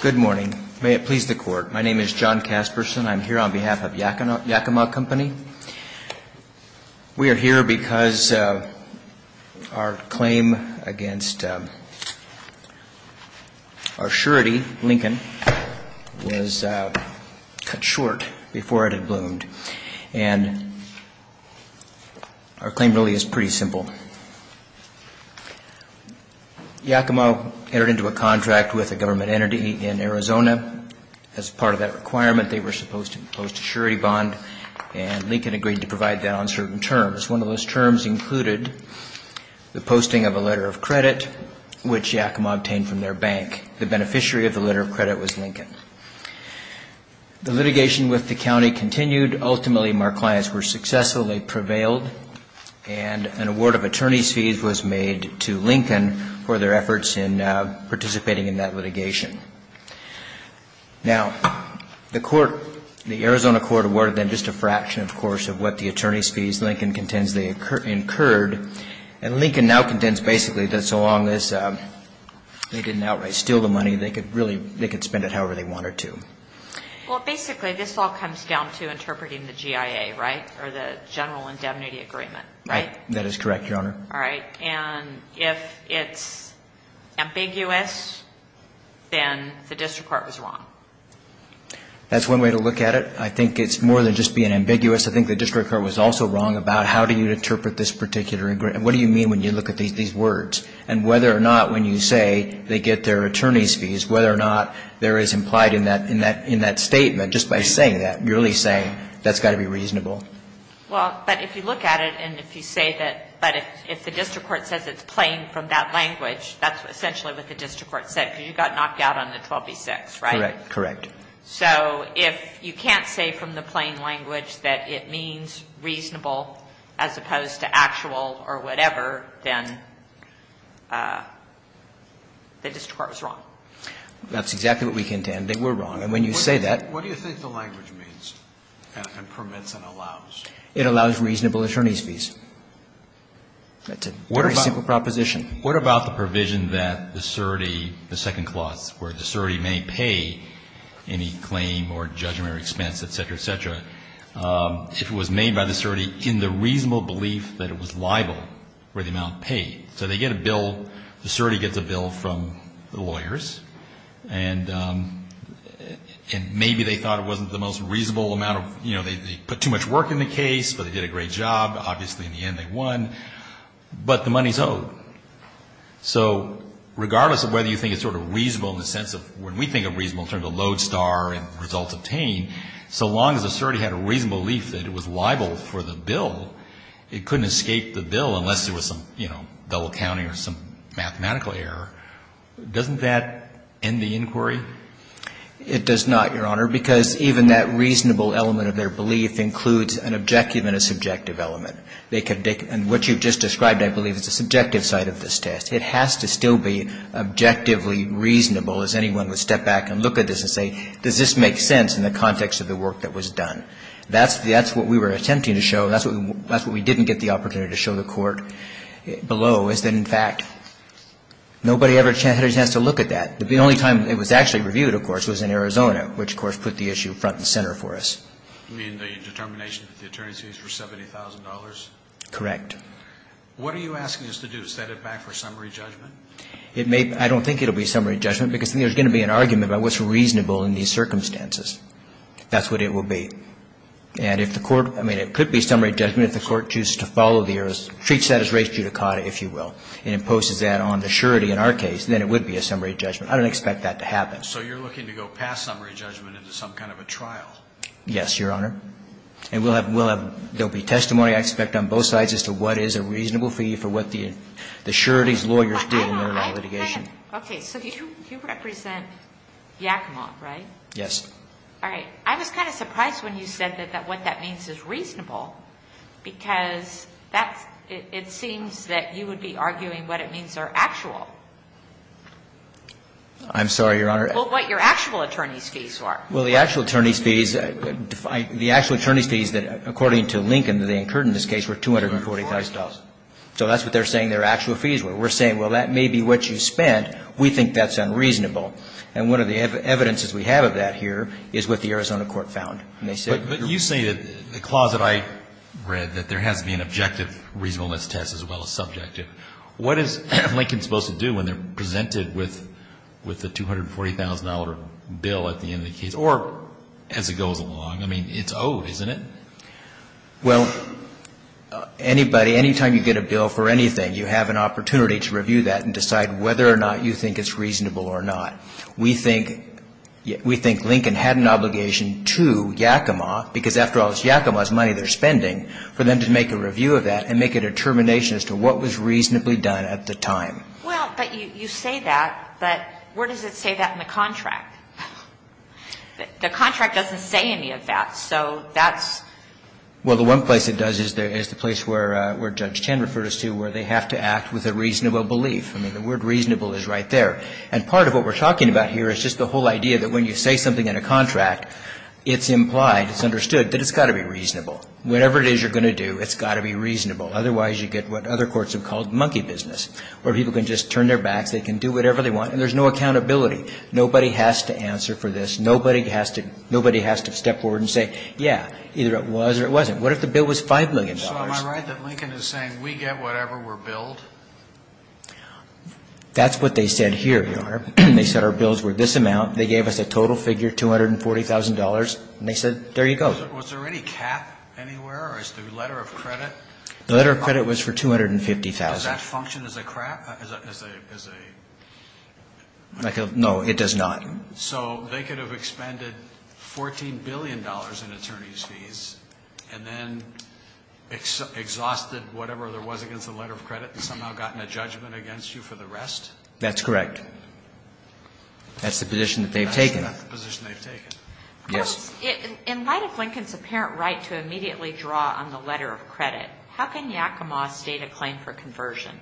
Good morning. May it please the court. My name is John Casperson. I am here on behalf of Yakima Company. We are here because our claim against our surety, Lincoln, was cut short before it had bloomed. And our claim really is pretty simple. Yakima entered into a contract with a government entity in Arizona. As part of that requirement, they were supposed to impose a surety bond, and Lincoln agreed to provide that on certain terms. One of those terms included the posting of a letter of credit, which Yakima obtained from their bank. The beneficiary of the letter of credit was Lincoln. The litigation with the county continued. Ultimately, our clients were successful. They prevailed, and an award of attorney's fees was made to Lincoln for their efforts in participating in that litigation. Now, the court, the Arizona court awarded them just a fraction, of course, of what the attorney's fees, Lincoln contends, they incurred. And Lincoln now contends, basically, that so long as they didn't outright steal the money, they could really, they could spend it however they wanted to. Well, basically, this all comes down to interpreting the GIA, right, or the general indemnity agreement, right? Right. That is correct, Your Honor. All right. And if it's ambiguous, then the district court was wrong. That's one way to look at it. I think it's more than just being ambiguous. I think the district court was also wrong about how do you interpret this particular, and what do you mean when you look at these words, and whether or not when you say they get their attorney's fees, whether or not there is implied in that, in this case, that they get their attorney's fees. In that statement, just by saying that, you're really saying that's got to be reasonable. Well, but if you look at it, and if you say that, but if the district court says it's plain from that language, that's essentially what the district court said, because you got knocked out on the 12b-6, right? Correct. So if you can't say from the plain language that it means reasonable as opposed to actual or whatever, then the district court was wrong. That's exactly what we contend. They were wrong. And when you say that What do you think the language means and permits and allows? It allows reasonable attorney's fees. That's a very simple proposition. What about the provision that the certee, the second clause, where the certee may pay any claim or judgment or expense, et cetera, et cetera, if it was made by the certee in the reasonable belief that it was liable for the amount paid? So they get a bill, the certee gets a bill from the lawyers, and maybe they thought it wasn't the most reasonable amount of, you know, they put too much work in the case, but they did a great job. Obviously, in the end, they won. But the money's owed. So regardless of whether you think it's sort of reasonable in the sense of when we think of reasonable in terms of lodestar and results obtained, so long as the certee had a reasonable belief that it was liable for the bill, it couldn't escape the bill unless there was some, you know, double counting or some mathematical error. Doesn't that end the inquiry? It does not, Your Honor, because even that reasonable element of their belief includes an objective and a subjective element. And what you've just described, I believe, is the subjective side of this test. It has to still be objectively reasonable, as anyone would step back and look at this and say, does this make sense in the context of the work that was done? That's what we were attempting to show. That's what we didn't get the opportunity to show the Court below, is that, in fact, nobody ever had a chance to look at that. The only time it was actually reviewed, of course, was in Arizona, which, of course, put the issue front and center for us. You mean the determination that the attorneys used for $70,000? Correct. What are you asking us to do? Set it back for summary judgment? It may be. I don't think it will be summary judgment, because there's going to be an argument about what's reasonable in these circumstances. That's what it will be. And if the Court – I mean, it could be summary judgment if the Court chooses to follow the – treats that as res judicata, if you will, and imposes that on the surety in our case, then it would be a summary judgment. I don't expect that to happen. So you're looking to go past summary judgment into some kind of a trial? Yes, Your Honor. And we'll have – there'll be testimony, I expect, on both sides as to what is a reasonable fee for what the surety's lawyers did in their litigation. Okay, so you represent Yakima, right? Yes. All right. I was kind of surprised when you said that what that means is reasonable, because that's – it seems that you would be arguing what it means are actual. I'm sorry, Your Honor. Well, what your actual attorney's fees are. Well, the actual attorney's fees – the actual attorney's fees that, according to Lincoln, that they incurred in this case were $245,000. So that's what they're saying their actual fees were. We're saying, well, that may be what you spent. We think that's unreasonable. And one of the evidences we have of that here is what the Arizona court found. And they said – But you say that the clause that I read, that there has to be an objective reasonableness test as well as subjective. What is Lincoln supposed to do when they're presented with the $240,000 bill at the end of the case? Or as it goes along? I mean, it's owed, isn't it? Well, anybody – anytime you get a bill for anything, you have an opportunity to review that and decide whether or not you think it's reasonable or not. We think Lincoln had an obligation to Yakima, because after all, it's Yakima's money they're spending, for them to make a review of that and make a determination as to what was reasonably done at the time. Well, but you say that, but where does it say that in the contract? The contract doesn't say any of that. So that's – Well, the one place it does is the place where Judge Chen referred us to, where they have to act with a reasonable belief. I mean, the word reasonable is right there. And part of what we're talking about here is just the whole idea that when you say something in a contract, it's implied, it's understood that it's got to be reasonable. Otherwise, you get what other courts have called monkey business, where people can just turn their backs, they can do whatever they want, and there's no accountability. Nobody has to answer for this. Nobody has to – nobody has to step forward and say, yeah, either it was or it wasn't. What if the bill was $5 million? So am I right that Lincoln is saying, we get whatever we're billed? That's what they said here, Your Honor. They said our bills were this amount. They gave us a total figure, $240,000, and they said, there you go. Was there any cap anywhere, or is the letter of credit? The letter of credit was for $250,000. Does that function as a – as a – as a – No, it does not. So they could have expended $14 billion in attorney's fees and then exhausted whatever there was against the letter of credit and somehow gotten a judgment against you for the rest? That's correct. That's the position that they've taken. That's the position they've taken. Yes. In light of Lincoln's apparent right to immediately draw on the letter of credit, how can Yakima state a claim for conversion?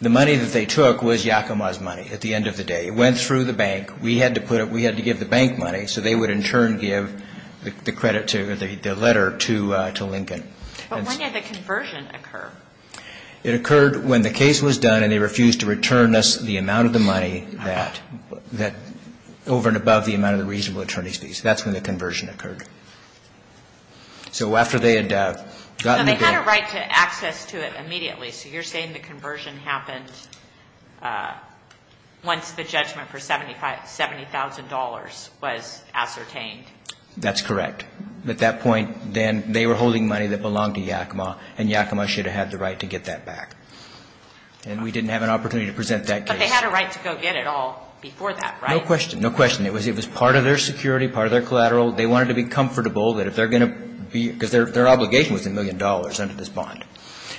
The money that they took was Yakima's money at the end of the day. It went through the bank. We had to put it – we had to give the bank money so they would in turn give the credit to – the letter to Lincoln. But when did the conversion occur? It occurred when the case was done and they refused to return us the amount of the money that – that – over and above the amount of the reasonable attorney's fees. That's when the conversion occurred. So after they had gotten the bank – So they had a right to access to it immediately. So you're saying the conversion happened once the judgment for $70,000 was ascertained? That's correct. At that point, then, they were holding money that belonged to Yakima and Yakima should have had the right to get that back. And we didn't have an opportunity to present that case. But they had a right to go get it all before that, right? No question. No question. It was part of their security, part of their collateral. They wanted to be comfortable that if they're going to be – because their obligation was a million dollars under this bond.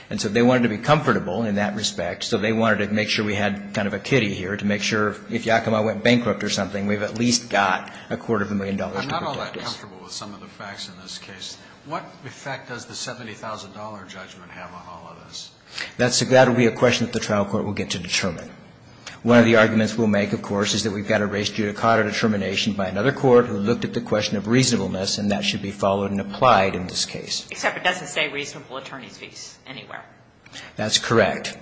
And so they wanted to be comfortable in that respect. So they wanted to make sure we had kind of a kitty here to make sure if Yakima went bankrupt or something, we've at least got a quarter of a million dollars to protect us. I'm not all that comfortable with some of the facts in this case. What effect does the $70,000 judgment have on all of this? That will be a question that the trial court will get to determine. One of the arguments we'll make, of course, is that we've got a race judicata determination by another court who looked at the question of reasonableness, and that should be followed and applied in this case. Except it doesn't say reasonable attorney's fees anywhere. That's correct.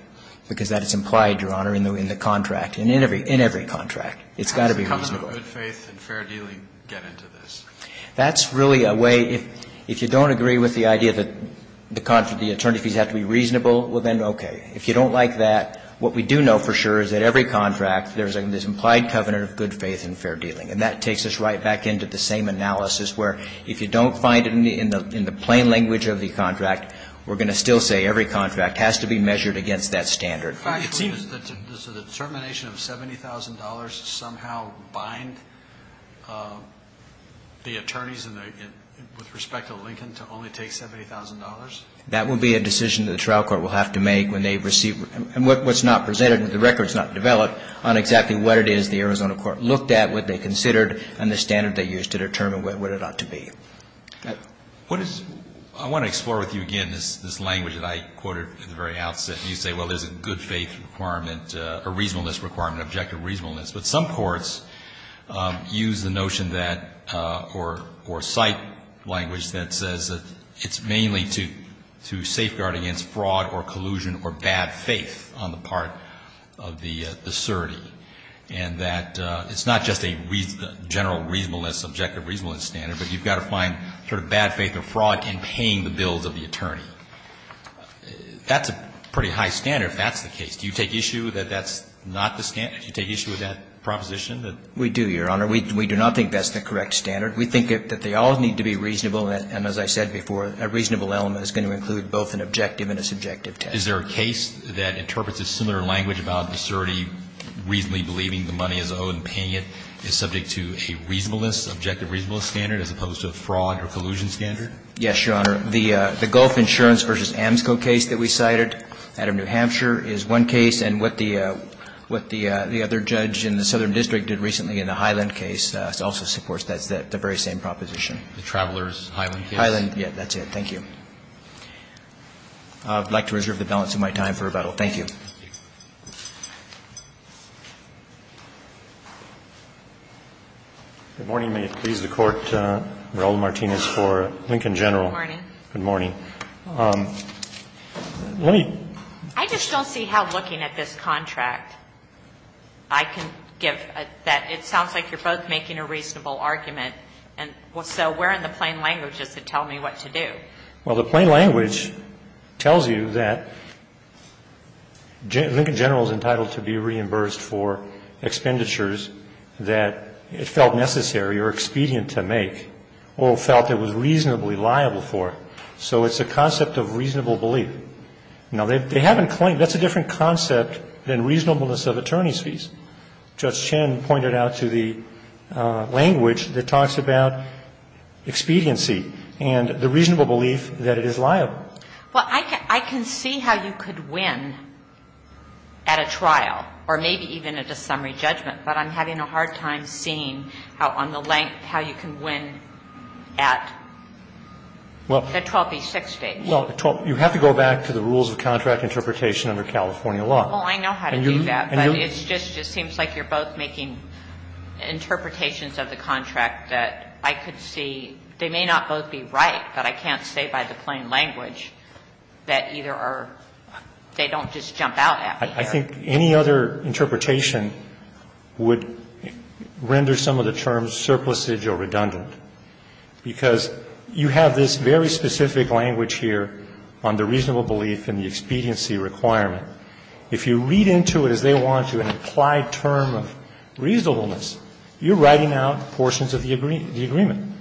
Because that is implied, Your Honor, in the contract – in every contract. It's got to be reasonable. How does the covenant of good faith and fair dealing get into this? That's really a way – if you don't agree with the idea that the attorney's fees have to be reasonable, well, then okay. If you don't like that, what we do know for sure is that every contract, there's an implied covenant of good faith and fair dealing. And that takes us right back into the same analysis where if you don't find it in the plain language of the contract, we're going to still say every contract has to be measured against that standard. Does the determination of $70,000 somehow bind the attorneys with respect to Lincoln to only take $70,000? That will be a decision that the trial court will have to make when they receive – and what's not presented, the record's not developed on exactly what it is the Arizona court looked at, what they considered, and the standard they used to determine what it ought to be. I want to explore with you again this language that I quoted at the very outset. You say, well, there's a good faith requirement – a reasonableness requirement, objective reasonableness. But some courts use the notion that – or cite language that says that it's mainly to safeguard against fraud or collusion or bad faith on the part of the certee. And that it's not just a general reasonableness, objective reasonableness standard, but you've got to find sort of bad faith or fraud in paying the bills of the attorney. That's a pretty high standard if that's the case. Do you take issue that that's not the standard? Do you take issue with that proposition? We do, Your Honor. We do not think that's the correct standard. We think that they all need to be reasonable, and as I said before, a reasonable element is going to include both an objective and a subjective test. Is there a case that interprets a similar language about the certee reasonably believing the money is owed and paying it is subject to a reasonableness, objective reasonableness standard, as opposed to a fraud or collusion standard? Yes, Your Honor. The Gulf Insurance v. AMSCO case that we cited out of New Hampshire is one case. And what the other judge in the Southern District did recently in the Highland case also supports that. It's the very same proposition. The Traveler's Highland case? Highland. Yes, that's it. Thank you. I would like to reserve the balance of my time for rebuttal. Thank you. Good morning. May it please the Court. This is Raul Martinez for Lincoln General. Good morning. Good morning. Let me ---- I just don't see how looking at this contract I can give that it sounds like you're both making a reasonable argument. And so where in the plain language does it tell me what to do? Well, the plain language tells you that Lincoln General is entitled to be reimbursed for expenditures that it felt necessary or expedient to make or felt it was reasonably liable for. So it's a concept of reasonable belief. Now, they haven't claimed ---- that's a different concept than reasonableness of attorney's fees. Judge Chin pointed out to the language that talks about expediency and the reasonable belief that it is liable. Well, I can see how you could win at a trial or maybe even at a summary judgment, but I'm having a hard time seeing how on the length how you can win at the 12B6 stage. Well, you have to go back to the rules of contract interpretation under California law. Well, I know how to do that. But it just seems like you're both making interpretations of the contract that I could see. They may not both be right, but I can't say by the plain language that either are ---- they don't just jump out at me. I think any other interpretation would render some of the terms surplusage or redundant, because you have this very specific language here on the reasonable belief and the expediency requirement. If you read into it as they want you, an implied term of reasonableness, you're writing out portions of the agreement.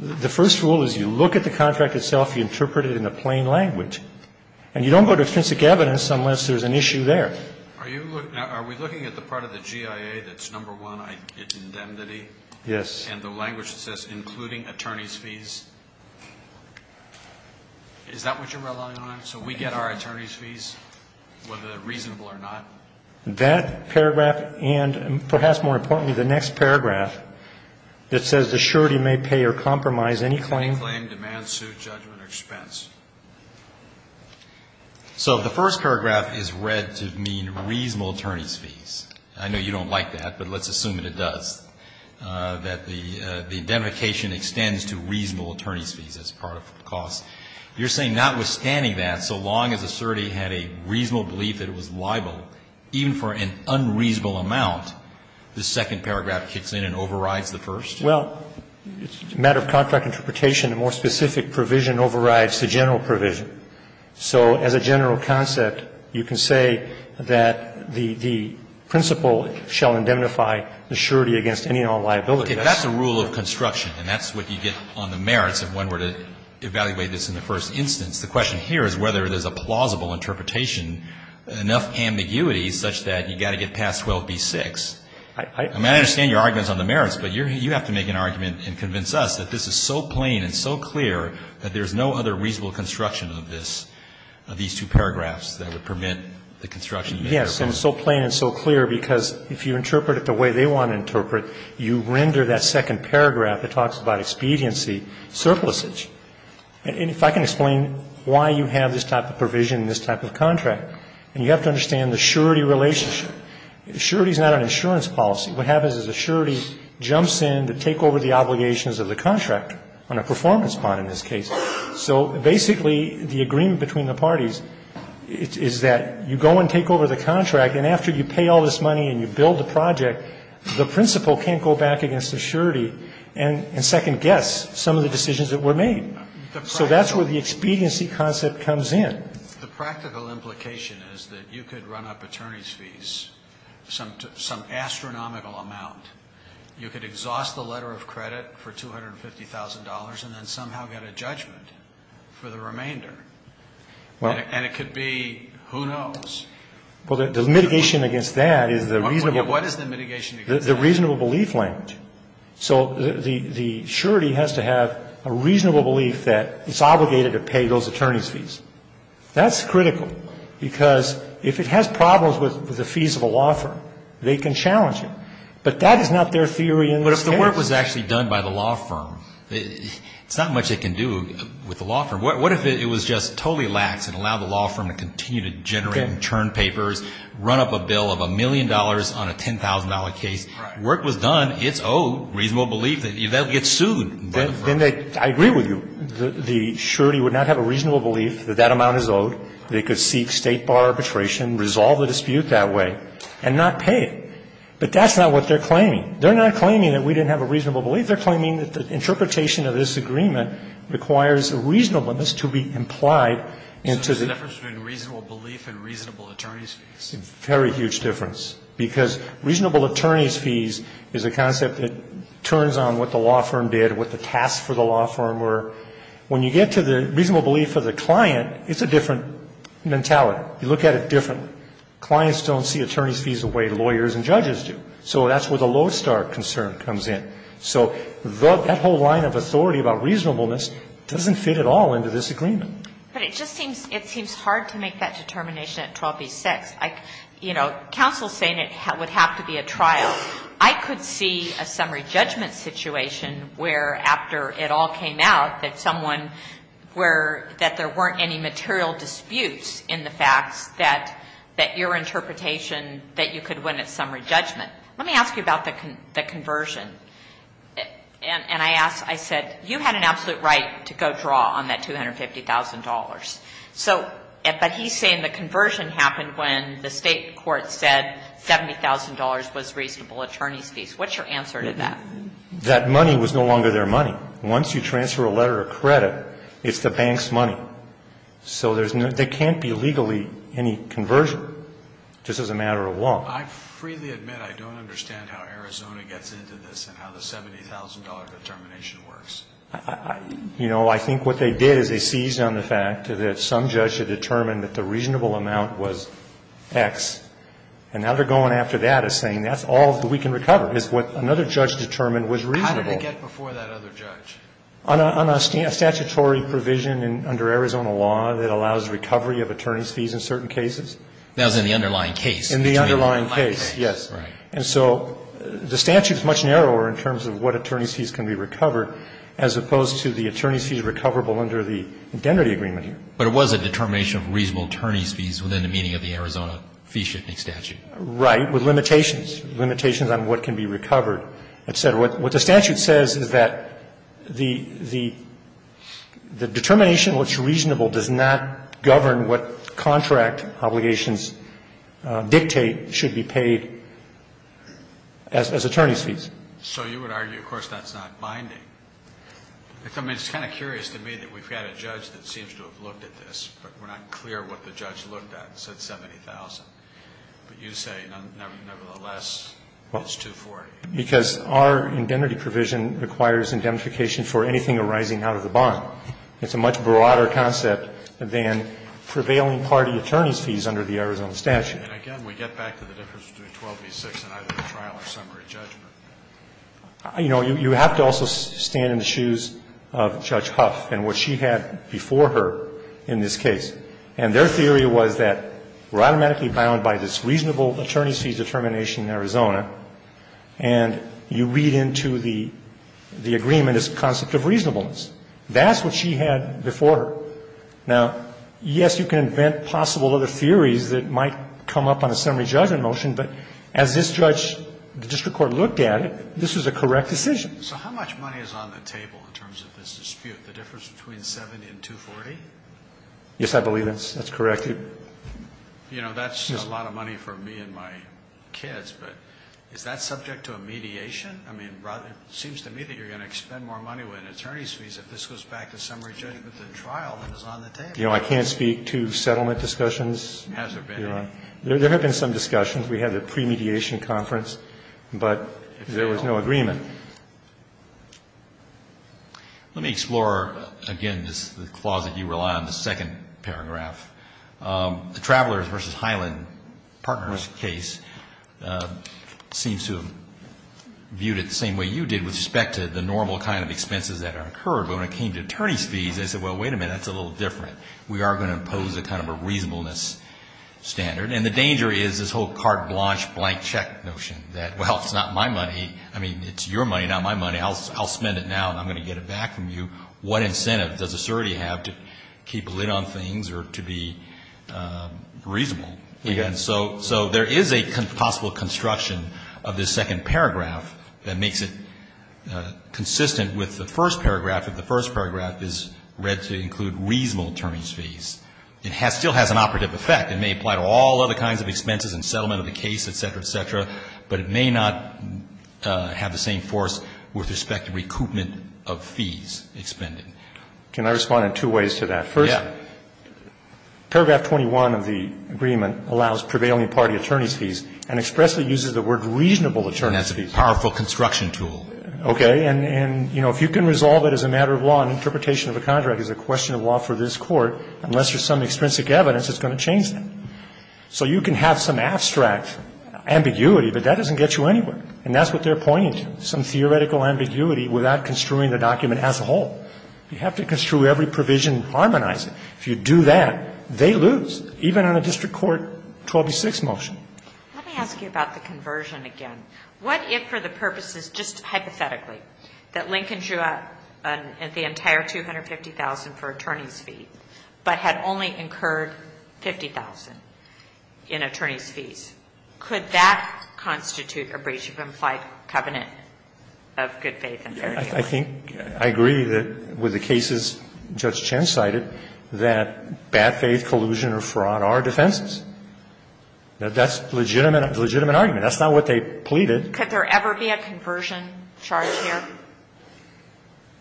The first rule is you look at the contract itself, you interpret it in the plain language, and you don't go to extrinsic evidence unless there's an issue there. Are we looking at the part of the GIA that's number one, indemnity? Yes. And the language that says including attorney's fees? Is that what you're relying on? So we get our attorney's fees, whether they're reasonable or not? That paragraph and perhaps more importantly the next paragraph that says the surety may pay or compromise any claim? Any claim, demand, suit, judgment or expense. So the first paragraph is read to mean reasonable attorney's fees. I know you don't like that, but let's assume that it does, that the identification extends to reasonable attorney's fees as part of costs. You're saying notwithstanding that, so long as a surety had a reasonable belief that it was liable, even for an unreasonable amount, the second paragraph kicks in and overrides the first? Well, it's a matter of contract interpretation. A more specific provision overrides the general provision. So as a general concept, you can say that the principle shall indemnify the surety against any and all liability. That's a rule of construction, and that's what you get on the merits of when we're to evaluate this in the first instance. The question here is whether there's a plausible interpretation, enough ambiguity such that you've got to get past 12b-6. I mean, I understand your arguments on the merits, but you have to make an argument and convince us that this is so plain and so clear that there's no other reasonable construction of this, of these two paragraphs that would permit the construction of the merits. Yes, and so plain and so clear because if you interpret it the way they want to interpret, you render that second paragraph that talks about expediency surplusage. And if I can explain why you have this type of provision in this type of contract, and you have to understand the surety relationship. Surety is not an insurance policy. What happens is the surety jumps in to take over the obligations of the contract on a performance bond in this case. So basically the agreement between the parties is that you go and take over the contract, and after you pay all this money and you build the project, the principle can't go back against the surety and second guess some of the decisions that were made. So that's where the expediency concept comes in. The practical implication is that you could run up attorney's fees, some astronomical amount. You could exhaust the letter of credit for $250,000 and then somehow get a judgment for the remainder. And it could be who knows. Well, the mitigation against that is the reasonable. What is the mitigation against that? The reasonable belief language. So the surety has to have a reasonable belief that it's obligated to pay those attorney's fees. That's critical because if it has problems with the fees of a law firm, they can challenge it. But that is not their theory in this case. But if the work was actually done by the law firm, it's not much it can do with the law firm. What if it was just totally lax and allowed the law firm to continue to generate and churn papers, run up a bill of a million dollars on a $10,000 case. Work was done. It's owed. Reasonable belief. If that gets sued by the firm. I agree with you. The surety would not have a reasonable belief that that amount is owed. They could seek State bar arbitration, resolve the dispute that way, and not pay it. But that's not what they're claiming. They're not claiming that we didn't have a reasonable belief. They're claiming that the interpretation of this agreement requires a reasonableness to be implied into the ---- between reasonable belief and reasonable attorney's fees. It's a very huge difference. Because reasonable attorney's fees is a concept that turns on what the law firm did, what the tasks for the law firm were. When you get to the reasonable belief of the client, it's a different mentality. You look at it differently. Clients don't see attorney's fees the way lawyers and judges do. So that's where the lodestar concern comes in. So that whole line of authority about reasonableness doesn't fit at all into this agreement. But it just seems ---- it seems hard to make that determination at 12b-6. You know, counsel is saying it would have to be a trial. I could see a summary judgment situation where, after it all came out, that someone where ---- that there weren't any material disputes in the facts that your interpretation that you could win at summary judgment. Let me ask you about the conversion. And I asked ---- I said, you had an absolute right to go draw on that $250,000. So ---- but he's saying the conversion happened when the State court said $70,000 was reasonable attorney's fees. What's your answer to that? That money was no longer their money. Once you transfer a letter of credit, it's the bank's money. So there's no ---- there can't be legally any conversion, just as a matter of law. I freely admit I don't understand how Arizona gets into this and how the $70,000 determination works. You know, I think what they did is they seized on the fact that some judge had determined that the reasonable amount was X. And now they're going after that as saying that's all we can recover is what another judge determined was reasonable. How did it get before that other judge? On a statutory provision under Arizona law that allows recovery of attorney's fees in certain cases. That was in the underlying case. In the underlying case, yes. Right. And so the statute is much narrower in terms of what attorney's fees can be recovered as opposed to the attorney's fees recoverable under the indemnity agreement. But it was a determination of reasonable attorney's fees within the meaning of the Arizona fee shifting statute. Right. With limitations, limitations on what can be recovered, et cetera. What the statute says is that the determination, what's reasonable, does not govern what contract obligations dictate should be paid as attorney's fees. So you would argue, of course, that's not binding. I mean, it's kind of curious to me that we've got a judge that seems to have looked at this, but we're not clear what the judge looked at. It said $70,000. But you say, nevertheless, it's $240,000. Because our indemnity provision requires indemnification for anything arising out of the bond. It's a much broader concept than prevailing party attorney's fees under the Arizona statute. And again, we get back to the difference between 12 v. 6 in either the trial or summary judgment. You know, you have to also stand in the shoes of Judge Huff and what she had before her in this case. And their theory was that we're automatically bound by this reasonable attorney's fees determination in Arizona, and you read into the agreement this concept of reasonableness. That's what she had before her. Now, yes, you can invent possible other theories that might come up on a summary judgment motion. But as this judge, the district court, looked at it, this was a correct decision. So how much money is on the table in terms of this dispute, the difference between $70,000 and $240,000? Yes, I believe that's correct. You know, that's a lot of money for me and my kids. But is that subject to a mediation? I mean, it seems to me that you're going to spend more money with an attorney's fees if this goes back to summary judgment than the trial that is on the table. You know, I can't speak to settlement discussions. Has there been any? There have been some discussions. We had the pre-mediation conference. But there was no agreement. Let me explore, again, the clause that you rely on, the second paragraph. The Travelers v. Highland Partners case seems to have viewed it the same way you did with respect to the normal kind of expenses that are incurred. But when it came to attorney's fees, they said, well, wait a minute, that's a little different. We are going to impose a kind of a reasonableness standard. And the danger is this whole carte blanche, blank check notion that, well, it's not my money. I mean, it's your money, not my money. I'll spend it now, and I'm going to get it back from you. What incentive does the sorority have to keep a lid on things or to be reasonable? And so there is a possible construction of this second paragraph that makes it consistent with the first paragraph. The first paragraph is read to include reasonable attorney's fees. It still has an operative effect. It may apply to all other kinds of expenses and settlement of the case, et cetera, et cetera. But it may not have the same force with respect to recoupment of fees expended. Can I respond in two ways to that? Yeah. First, paragraph 21 of the agreement allows prevailing party attorney's fees and expressly uses the word reasonable attorney's fees. That's a powerful construction tool. Okay. And, you know, if you can resolve it as a matter of law and interpretation of a contract is a question of law for this Court, unless there's some extrinsic evidence, it's going to change that. So you can have some abstract ambiguity, but that doesn't get you anywhere. And that's what they're pointing to, some theoretical ambiguity without construing the document as a whole. You have to construe every provision and harmonize it. If you do that, they lose, even on a district court 126 motion. Let me ask you about the conversion again. What if for the purposes, just hypothetically, that Lincoln drew up the entire $250,000 for attorney's fees, but had only incurred $50,000 in attorney's fees? Could that constitute a breach of implied covenant of good faith and fair judgment? I think I agree with the cases Judge Chen cited that bad faith, collusion or fraud are defenses. That's a legitimate argument. That's not what they pleaded. Could there ever be a conversion charge here?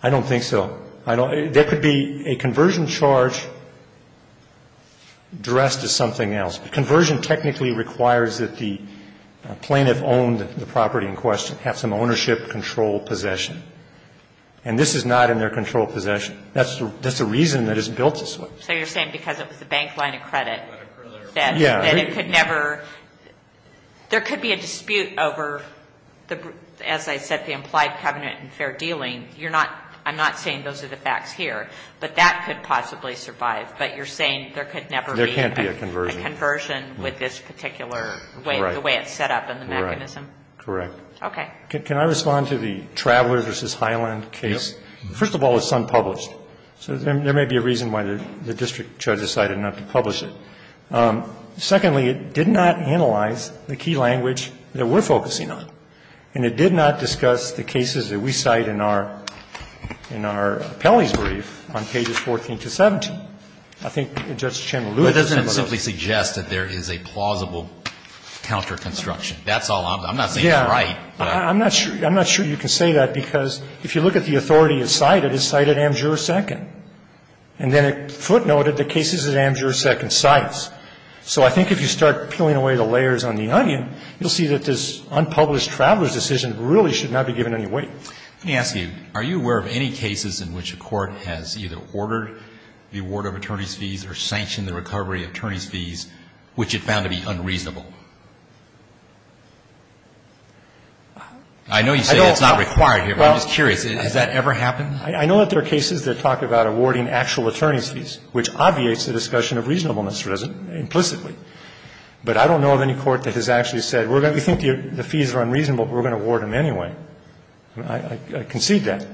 I don't think so. There could be a conversion charge dressed as something else. Conversion technically requires that the plaintiff owned the property in question have some ownership control possession. And this is not in their control possession. That's the reason that it's built this way. So you're saying because it was a bank line of credit that it could never – there could be a dispute over, as I said, the implied covenant and fair dealing. You're not – I'm not saying those are the facts here. But that could possibly survive. But you're saying there could never be a conversion with this particular way it's set up and the mechanism? Correct. Okay. Can I respond to the Traveler v. Highland case? First of all, it's unpublished. So there may be a reason why the district judge decided not to publish it. Secondly, it did not analyze the key language that we're focusing on. And it did not discuss the cases that we cite in our – in our appellee's brief on pages 14 to 17. I think Judge Chen alluded to some of those. But it doesn't simply suggest that there is a plausible counterconstruction. That's all I'm – I'm not saying it's right. Yeah. I'm not sure – I'm not sure you can say that, because if you look at the authority it cited, it cited Amjur II. And then it footnoted the cases that Amjur II cites. So I think if you start peeling away the layers on the onion, you'll see that this unpublished Traveler's decision really should not be given any weight. Let me ask you. Are you aware of any cases in which a court has either ordered the award of attorney's fees or sanctioned the recovery of attorney's fees, which it found to be unreasonable? I know you say it's not required here, but I'm just curious. Has that ever happened? I know that there are cases that talk about awarding actual attorney's fees, which obviates the discussion of reasonableness implicitly. But I don't know of any court that has actually said, we think the fees are unreasonable, but we're going to award them anyway. I concede that.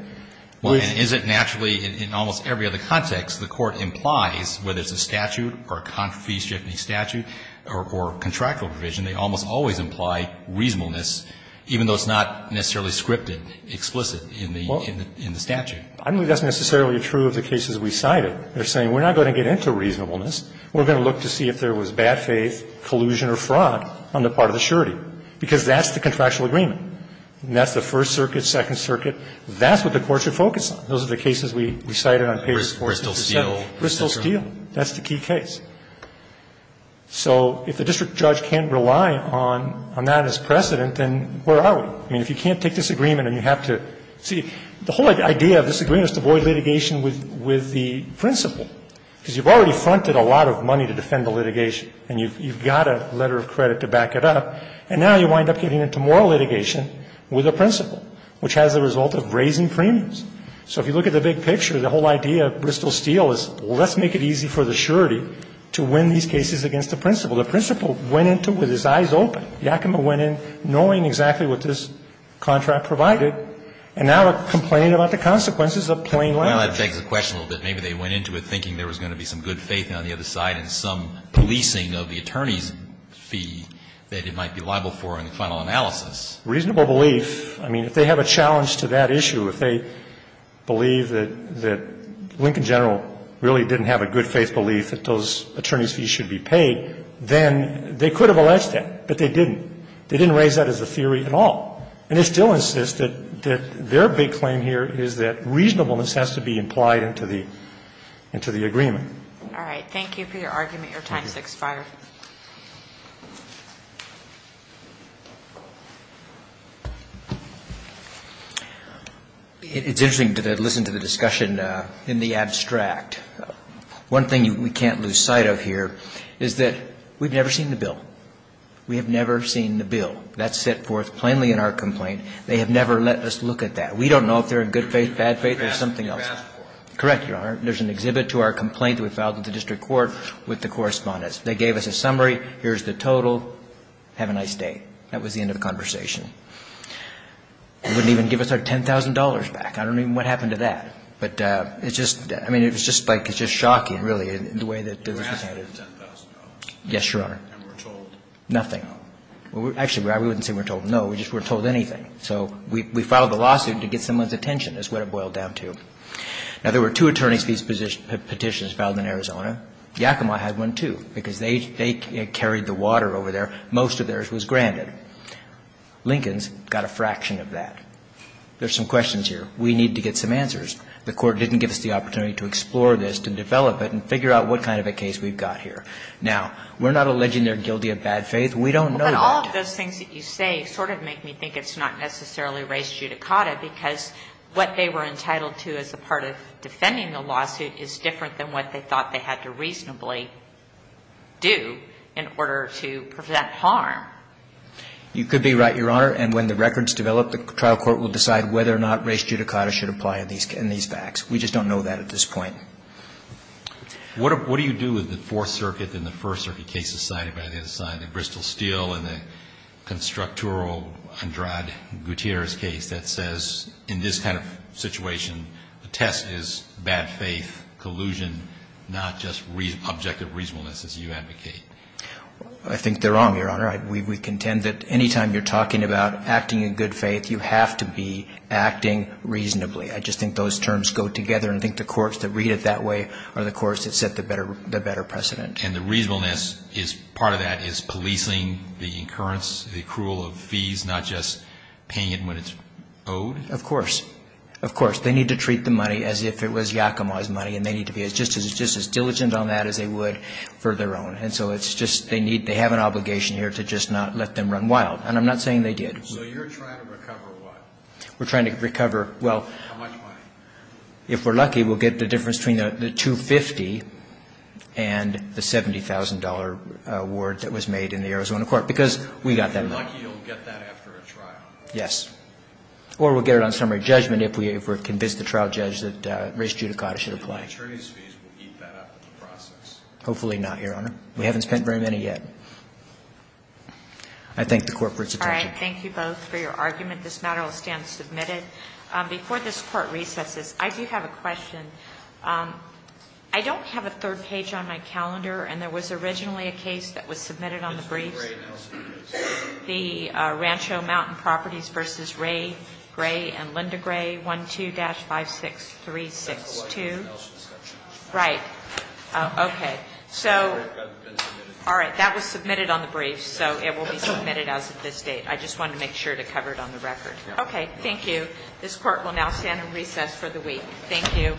Well, and is it naturally in almost every other context the Court implies, whether it's a statute or a fees-stripping statute or contractual provision, they almost always imply reasonableness, even though it's not necessarily scripted, explicit in the statute. I don't think that's necessarily true of the cases we cited. They're saying we're not going to get into reasonableness. We're going to look to see if there was bad faith, collusion or fraud on the part of the surety, because that's the contractual agreement. And that's the First Circuit, Second Circuit. That's what the Court should focus on. Those are the cases we cited on page 4. Bristol-Steele. Bristol-Steele. That's the key case. So if the district judge can't rely on that as precedent, then where are we? I mean, if you can't take this agreement and you have to see the whole idea of this agreement is to avoid litigation with the principal, because you've already fronted a lot of money to defend the litigation and you've got a letter of credit to back it up, and now you wind up getting into more litigation with a principal, which has the result of raising premiums. So if you look at the big picture, the whole idea of Bristol-Steele is, well, let's make it easy for the surety to win these cases against the principal. The principal went into it with his eyes open. Yakima went in knowing exactly what this contract provided, and now they're complaining about the consequences of plain language. Alitoson Well, that begs the question a little bit. Maybe they went into it thinking there was going to be some good faith on the other side and some policing of the attorney's fee that it might be liable for in the final analysis. Bristol-Steele Reasonable belief. I mean, if they have a challenge to that issue, if they believe that Lincoln General really didn't have a good faith belief that those attorney's fees should be paid, then they could have alleged that, but they didn't. They didn't raise that as a theory at all. And they still insist that their big claim here is that reasonableness has to be implied into the agreement. All right. Thank you for your argument. Your time has expired. It's interesting to listen to the discussion in the abstract. One thing we can't lose sight of here is that we've never seen the bill. We have never seen the bill. That's set forth plainly in our complaint. They have never let us look at that. We don't know if they're in good faith, bad faith, or something else. Correct, Your Honor. There's an exhibit to our complaint that we filed at the district court with the correspondents. They gave us a summary. Here's the total. Have a nice day. That was the end of the conversation. They wouldn't even give us our $10,000 back. I don't even know what happened to that. But it's just, I mean, it was just like, it's just shocking, really, the way that this was handed. You were asking for $10,000. Yes, Your Honor. And we're told. Nothing. Actually, we wouldn't say we're told. No, we just weren't told anything. So we filed the lawsuit to get someone's attention is what it boiled down to. Now, there were two attorney's fees petitions filed in Arizona. Yakima had one, too, because they carried the water over there. Most of theirs was granted. Lincoln's got a fraction of that. There's some questions here. We need to get some answers. The Court didn't give us the opportunity to explore this, to develop it, and figure out what kind of a case we've got here. Now, we're not alleging they're guilty of bad faith. We don't know that. But all of those things that you say sort of make me think it's not necessarily race judicata, because what they were entitled to as a part of defending the lawsuit is different than what they thought they had to reasonably do in order to prevent harm. You could be right, Your Honor. And when the records develop, the trial court will decide whether or not race judicata should apply in these facts. We just don't know that at this point. What do you do with the Fourth Circuit and the First Circuit cases sided by the other side, the Bristol-Steele and the constructural Andrade Gutierrez case that says, in this kind of situation, the test is bad faith, collusion, not just objective reasonableness, as you advocate? I think they're wrong, Your Honor. We contend that any time you're talking about acting in good faith, you have to be acting reasonably. I just think those terms go together, and I think the courts that read it that way are the courts that set the better precedent. And the reasonableness is part of that is policing the incurrence, the accrual of fees, not just paying it when it's owed? Of course. Of course. They need to treat the money as if it was Yakima's money, and they need to be just as diligent on that as they would for their own. And so it's just they need, they have an obligation here to just not let them run wild. And I'm not saying they did. So you're trying to recover what? We're trying to recover, well. How much money? If we're lucky, we'll get the difference between the $250,000 and the $70,000 award that was made in the Arizona court, because we got that money. If you're lucky, you'll get that after a trial? Yes. Or we'll get it on summary judgment if we're convinced the trial judge that race judicata should apply. And the attorney's fees will eat that up in the process? Hopefully not, Your Honor. We haven't spent very many yet. I thank the court for its attention. All right. Thank you both for your argument. This matter will stand submitted. Before this court recesses, I do have a question. I don't have a third page on my calendar, and there was originally a case that was submitted on the briefs. The Rancho Mountain Properties v. Ray Gray and Linda Gray, 12-56362. Right. Okay. All right. That was submitted on the briefs, so it will be submitted as of this date. I just wanted to make sure to cover it on the record. Okay. Thank you. This court will now stand in recess for the week. Thank you.